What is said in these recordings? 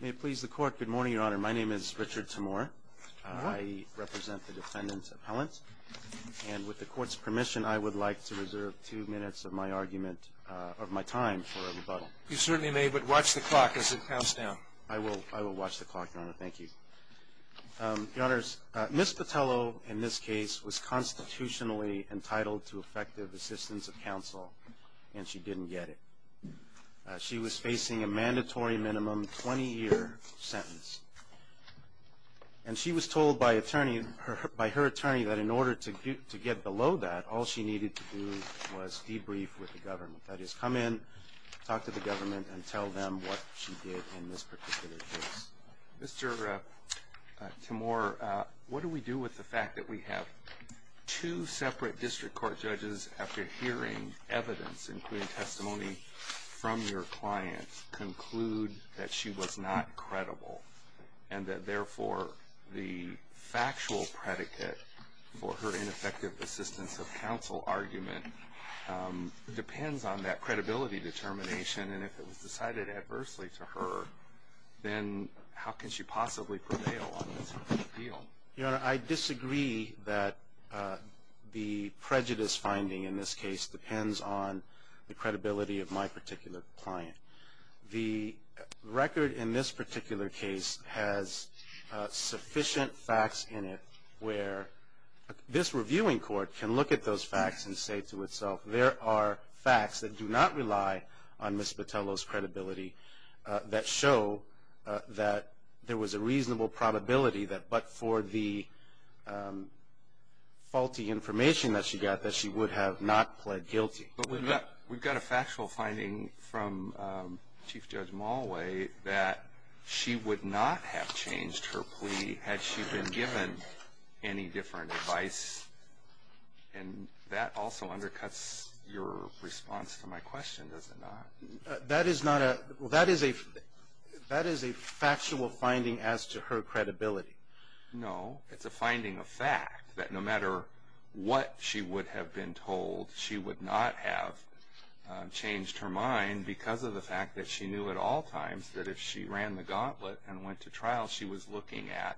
May it please the court. Good morning, Your Honor. My name is Richard Timor. I represent the defendant's appellant. And with the court's permission, I would like to reserve two minutes of my argument, of my time, for a rebuttal. You certainly may, but watch the clock as it counts down. I will watch the clock, Your Honor. Thank you. Your Honors, Ms. Botelho, in this case, was constitutionally entitled to effective assistance of counsel, and she didn't get it. She was facing a mandatory minimum 20-year sentence. And she was told by her attorney that in order to get below that, all she needed to do was debrief with the government. That is, come in, talk to the government, and tell them what she did in this particular case. Mr. Timor, what do we do with the fact that we have two separate district court judges, after hearing evidence, including testimony from your client, conclude that she was not credible? And that, therefore, the factual predicate for her ineffective assistance of counsel argument depends on that credibility determination. And if it was decided adversely to her, then how can she possibly prevail on this appeal? Your Honor, I disagree that the prejudice finding in this case depends on the credibility of my particular client. The record in this particular case has sufficient facts in it where this reviewing court can look at those facts and say to itself, there are facts that do not rely on Ms. Botelho's credibility that show that there was a reasonable probability that but for the faulty information that she got, that she would have not pled guilty. But we've got a factual finding from Chief Judge Malway that she would not have changed her plea had she been given any different advice. And that also undercuts your response to my question, does it not? That is a factual finding as to her credibility. No. It's a finding of fact that no matter what she would have been told, she would not have changed her mind because of the fact that she knew at all times that if she ran the gauntlet and went to trial, she was looking at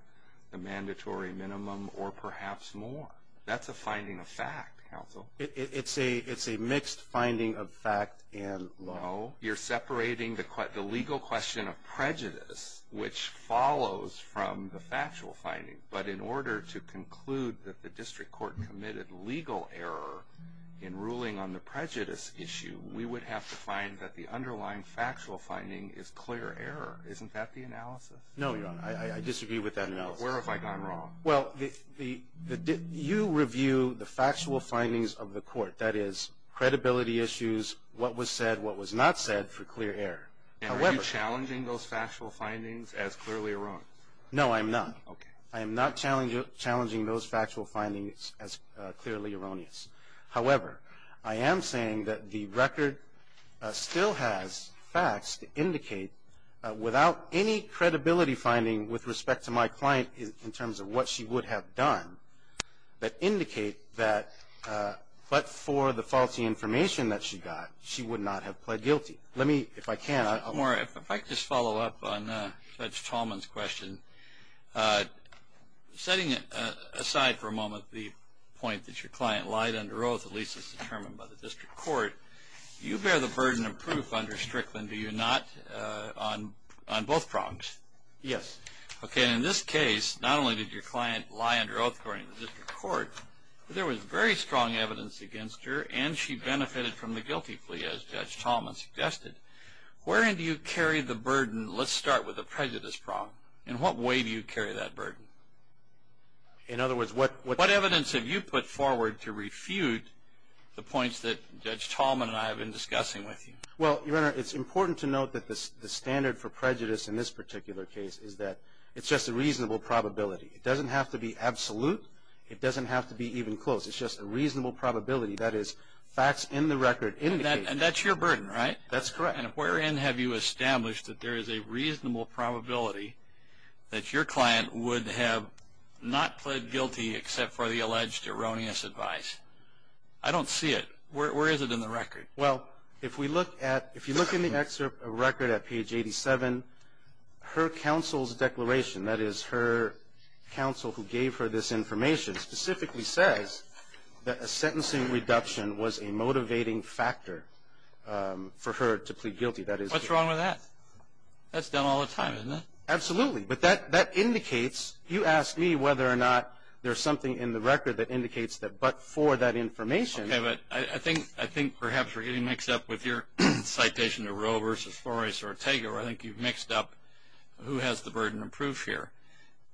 the mandatory minimum or perhaps more. That's a finding of fact, counsel. It's a mixed finding of fact and law. No. You're separating the legal question of prejudice, which follows from the factual finding. But in order to conclude that the district court committed legal error in ruling on the prejudice issue, we would have to find that the underlying factual finding is clear error. Isn't that the analysis? No, Your Honor. I disagree with that analysis. Where have I gone wrong? Well, you review the factual findings of the court. That is, credibility issues, what was said, what was not said for clear error. And are you challenging those factual findings as clearly erroneous? No, I'm not. Okay. I am not challenging those factual findings as clearly erroneous. However, I am saying that the record still has facts to indicate, without any credibility finding with respect to my client in terms of what she would have done, that indicate that but for the faulty information that she got, she would not have pled guilty. Let me, if I can, I'll. If I could just follow up on Judge Tallman's question. Setting aside for a moment the point that your client lied under oath, at least as determined by the district court, you bear the burden of proof under Strickland, do you not, on both prongs? Yes. Okay. And in this case, not only did your client lie under oath according to the district court, but there was very strong evidence against her, and she benefited from the guilty plea, as Judge Tallman suggested. Wherein do you carry the burden? And let's start with the prejudice problem. In what way do you carry that burden? In other words, what evidence have you put forward to refute the points that Judge Tallman and I have been discussing with you? Well, Your Honor, it's important to note that the standard for prejudice in this particular case is that it's just a reasonable probability. It doesn't have to be absolute. It doesn't have to be even close. It's just a reasonable probability. That is, facts in the record indicate. And that's your burden, right? That's correct. And wherein have you established that there is a reasonable probability that your client would have not pled guilty except for the alleged erroneous advice? I don't see it. Where is it in the record? Well, if you look in the record at page 87, her counsel's declaration, that is her counsel who gave her this information, specifically says that a sentencing reduction was a motivating factor for her to plead guilty. What's wrong with that? That's done all the time, isn't it? Absolutely. But that indicates, you asked me whether or not there's something in the record that indicates that but for that information. Okay, but I think perhaps we're getting mixed up with your citation to Roe v. Flores or Ortega where I think you've mixed up who has the burden of proof here.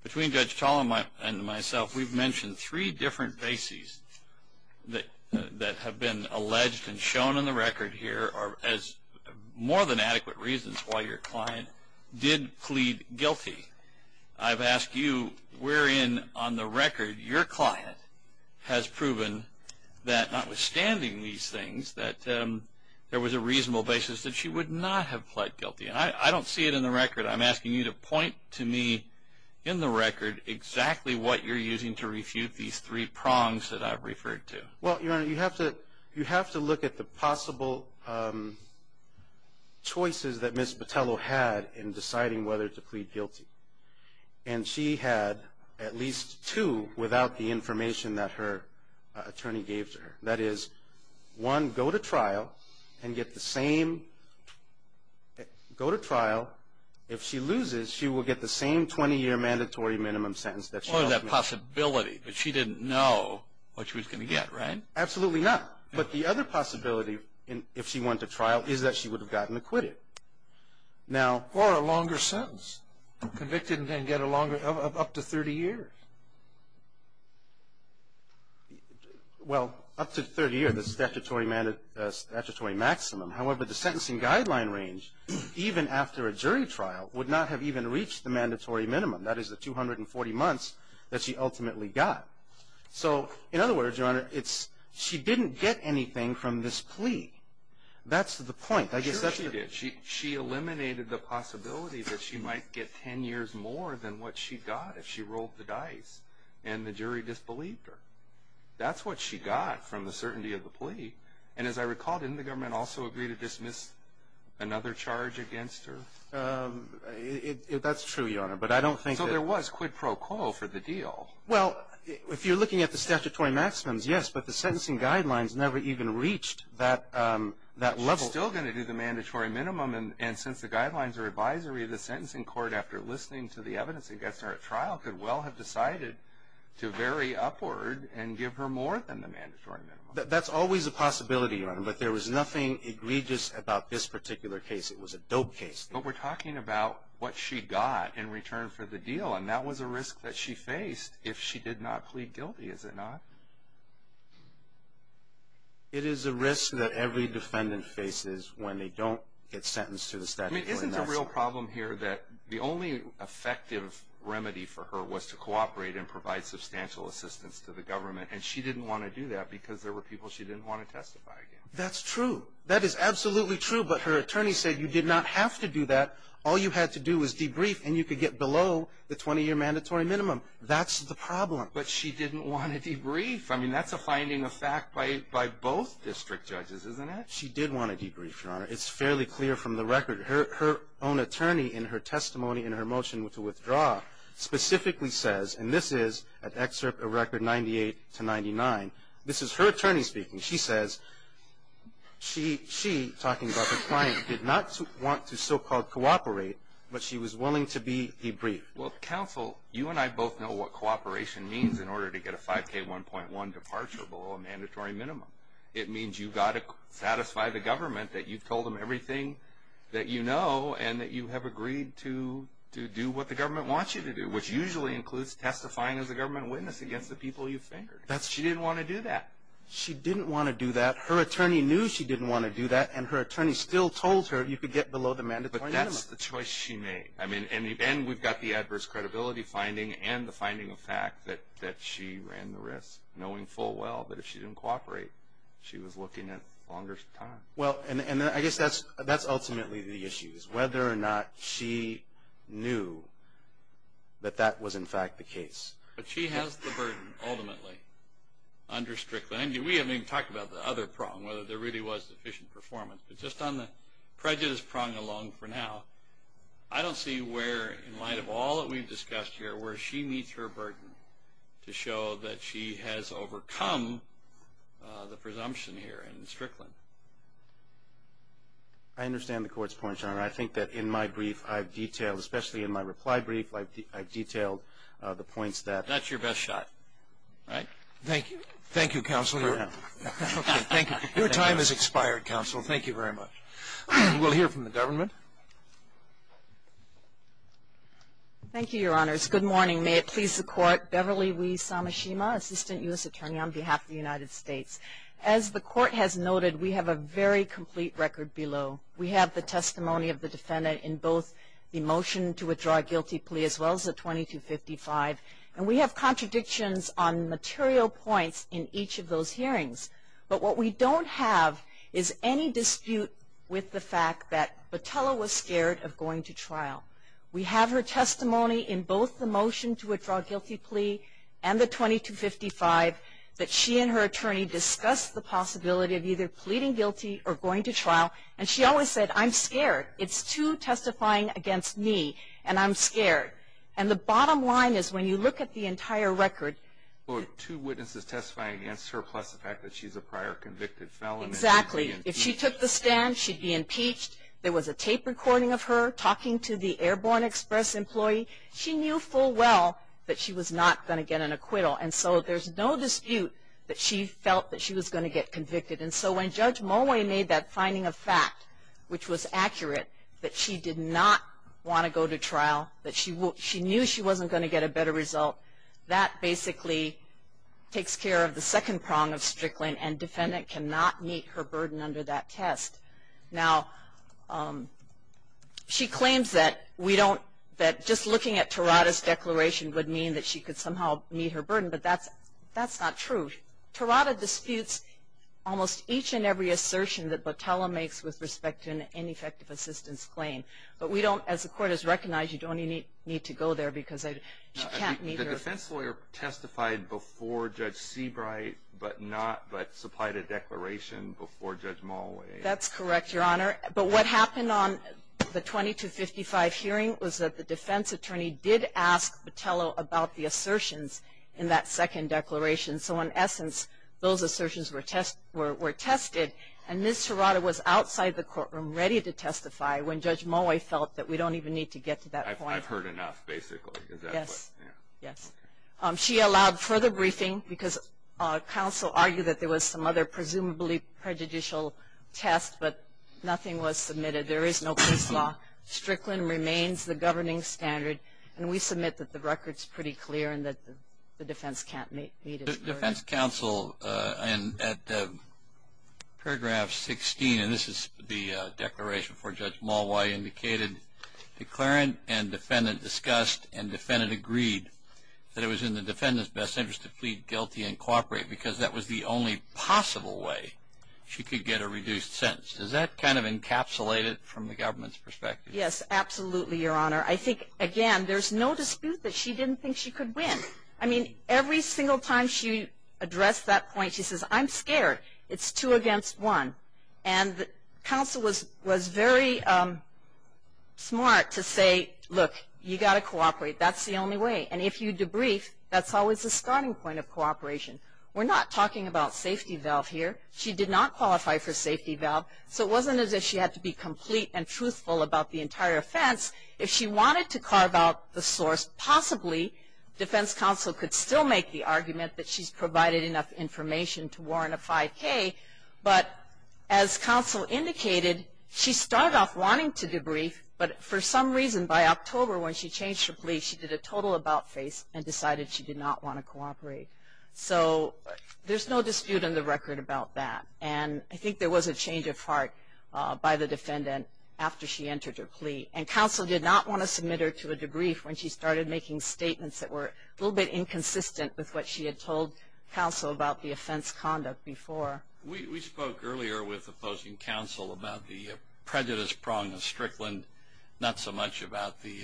Between Judge Tall and myself, we've mentioned three different bases that have been alleged and shown in the record here as more than adequate reasons why your client did plead guilty. I've asked you wherein on the record your client has proven that notwithstanding these things, that there was a reasonable basis that she would not have pled guilty. I don't see it in the record. I'm asking you to point to me in the record exactly what you're using to refute these three prongs that I've referred to. Well, Your Honor, you have to look at the possible choices that Ms. Botello had in deciding whether to plead guilty. And she had at least two without the information that her attorney gave to her. That is, one, go to trial and get the same. Go to trial. If she loses, she will get the same 20-year mandatory minimum sentence. Or that possibility that she didn't know what she was going to get, right? Absolutely not. But the other possibility if she went to trial is that she would have gotten acquitted. Or a longer sentence. Convicted and then get a longer, up to 30 years. Well, up to 30 years, the statutory maximum. However, the sentencing guideline range, even after a jury trial, would not have even reached the mandatory minimum. That is the 240 months that she ultimately got. So, in other words, Your Honor, it's she didn't get anything from this plea. That's the point. I guess that's the point. Sure she did. She eliminated the possibility that she might get 10 years more than what she got if she rolled the dice and the jury disbelieved her. That's what she got from the certainty of the plea. And as I recall, didn't the government also agree to dismiss another charge against her? That's true, Your Honor, but I don't think that. So there was quid pro quo for the deal. Well, if you're looking at the statutory maximums, yes, but the sentencing guidelines never even reached that level. She's still going to do the mandatory minimum. And since the guidelines are advisory of the sentencing court after listening to the evidence against her at trial, could well have decided to vary upward and give her more than the mandatory minimum. That's always a possibility, Your Honor, but there was nothing egregious about this particular case. It was a dope case. But we're talking about what she got in return for the deal, and that was a risk that she faced if she did not plead guilty, is it not? It is a risk that every defendant faces when they don't get sentenced to the statutory maximum. There's a real problem here that the only effective remedy for her was to cooperate and provide substantial assistance to the government, and she didn't want to do that because there were people she didn't want to testify against. That's true. That is absolutely true, but her attorney said you did not have to do that. All you had to do was debrief, and you could get below the 20-year mandatory minimum. That's the problem. But she didn't want to debrief. I mean, that's a finding of fact by both district judges, isn't it? She did want to debrief, Your Honor. It's fairly clear from the record. Her own attorney in her testimony in her motion to withdraw specifically says, and this is an excerpt of Record 98-99, this is her attorney speaking. She says she, talking about her client, did not want to so-called cooperate, but she was willing to debrief. Well, counsel, you and I both know what cooperation means in order to get a 5K1.1 departure below a mandatory minimum. It means you've got to satisfy the government that you've told them everything that you know and that you have agreed to do what the government wants you to do, which usually includes testifying as a government witness against the people you've fingered. She didn't want to do that. She didn't want to do that. Her attorney knew she didn't want to do that, and her attorney still told her you could get below the mandatory minimum. But that's the choice she made. And we've got the adverse credibility finding and the finding of fact that she ran the risk, knowing full well that if she didn't cooperate, she was looking at longer time. Well, and I guess that's ultimately the issue, is whether or not she knew that that was, in fact, the case. But she has the burden, ultimately, under Strickland. We haven't even talked about the other prong, whether there really was sufficient performance. But just on the prejudice prong alone for now, I don't see where, in light of all that we've discussed here, where she meets her burden to show that she has overcome the presumption here in Strickland. I understand the Court's point, Your Honor. I think that in my brief, I've detailed, especially in my reply brief, I've detailed the points that. That's your best shot, right? Thank you. Thank you, Counsel. Your time has expired, Counsel. Thank you very much. We'll hear from the government. Thank you. Thank you, Your Honors. Good morning. May it please the Court. Beverly Lee Samashima, Assistant U.S. Attorney on behalf of the United States. As the Court has noted, we have a very complete record below. We have the testimony of the defendant in both the motion to withdraw a guilty plea as well as the 2255. And we have contradictions on material points in each of those hearings. But what we don't have is any dispute with the fact that Botella was scared of going to trial. We have her testimony in both the motion to withdraw a guilty plea and the 2255, that she and her attorney discussed the possibility of either pleading guilty or going to trial. And she always said, I'm scared. It's two testifying against me, and I'm scared. And the bottom line is, when you look at the entire record. Two witnesses testifying against her plus the fact that she's a prior convicted felon. Exactly. If she took the stand, she'd be impeached. There was a tape recording of her talking to the Airborne Express employee. She knew full well that she was not going to get an acquittal. And so there's no dispute that she felt that she was going to get convicted. And so when Judge Mulway made that finding of fact, which was accurate, that she did not want to go to trial, that she knew she wasn't going to get a better result, that basically takes care of the second prong of Strickland, and defendant cannot meet her burden under that test. Now, she claims that we don't, that just looking at Terada's declaration would mean that she could somehow meet her burden, but that's not true. Terada disputes almost each and every assertion that Botella makes with respect to an ineffective assistance claim. But we don't, as the Court has recognized, you don't need to go there because she can't meet her burden. The defense lawyer testified before Judge Seabright, but not, but supplied a declaration before Judge Mulway. That's correct, Your Honor. But what happened on the 2255 hearing was that the defense attorney did ask Botella about the assertions in that second declaration. So in essence, those assertions were tested, and Ms. Terada was outside the courtroom ready to testify when Judge Mulway felt that we don't even need to get to that point. I've heard enough, basically. Yes, yes. She allowed further briefing because counsel argued that there was some other presumably prejudicial test, but nothing was submitted. There is no case law. Strickland remains the governing standard, and we submit that the record's pretty clear and that the defense can't meet its burden. The defense counsel at paragraph 16, and this is the declaration before Judge Mulway, indicated declarant and defendant discussed and defendant agreed that it was in the defendant's best interest to plead guilty and cooperate because that was the only possible way she could get a reduced sentence. Does that kind of encapsulate it from the government's perspective? Yes, absolutely, Your Honor. I think, again, there's no dispute that she didn't think she could win. I mean, every single time she addressed that point, she says, I'm scared. It's two against one. And counsel was very smart to say, look, you got to cooperate. That's the only way. And if you debrief, that's always a starting point of cooperation. We're not talking about safety valve here. She did not qualify for safety valve, so it wasn't as if she had to be complete and truthful about the entire offense. If she wanted to carve out the source, possibly defense counsel could still make the argument that she's provided enough information to warrant a 5K. But as counsel indicated, she started off wanting to debrief, but for some reason, by October, when she changed her plea, she did a total about-face and decided she did not want to cooperate. So there's no dispute in the record about that. And I think there was a change of heart by the defendant after she entered her plea. And counsel did not want to submit her to a debrief when she started making statements that were a little bit inconsistent with what she had told counsel about the offense conduct before. We spoke earlier with opposing counsel about the prejudice prong of Strickland, not so much about the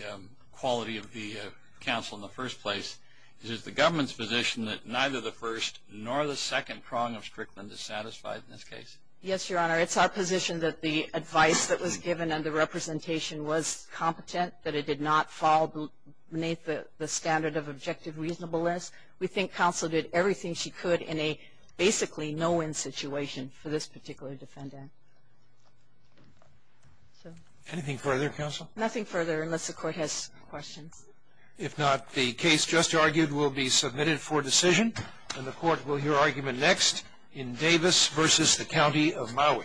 quality of the counsel in the first place. Is it the government's position that neither the first nor the second prong of Strickland is satisfied in this case? Yes, Your Honor. It's our position that the advice that was given and the representation was competent, that it did not fall beneath the standard of objective reasonableness. We think counsel did everything she could in a basically no-win situation for this particular defendant. Anything further, counsel? Nothing further, unless the Court has questions. If not, the case just argued will be submitted for decision, and the Court will hear argument next in Davis v. The County of Maui.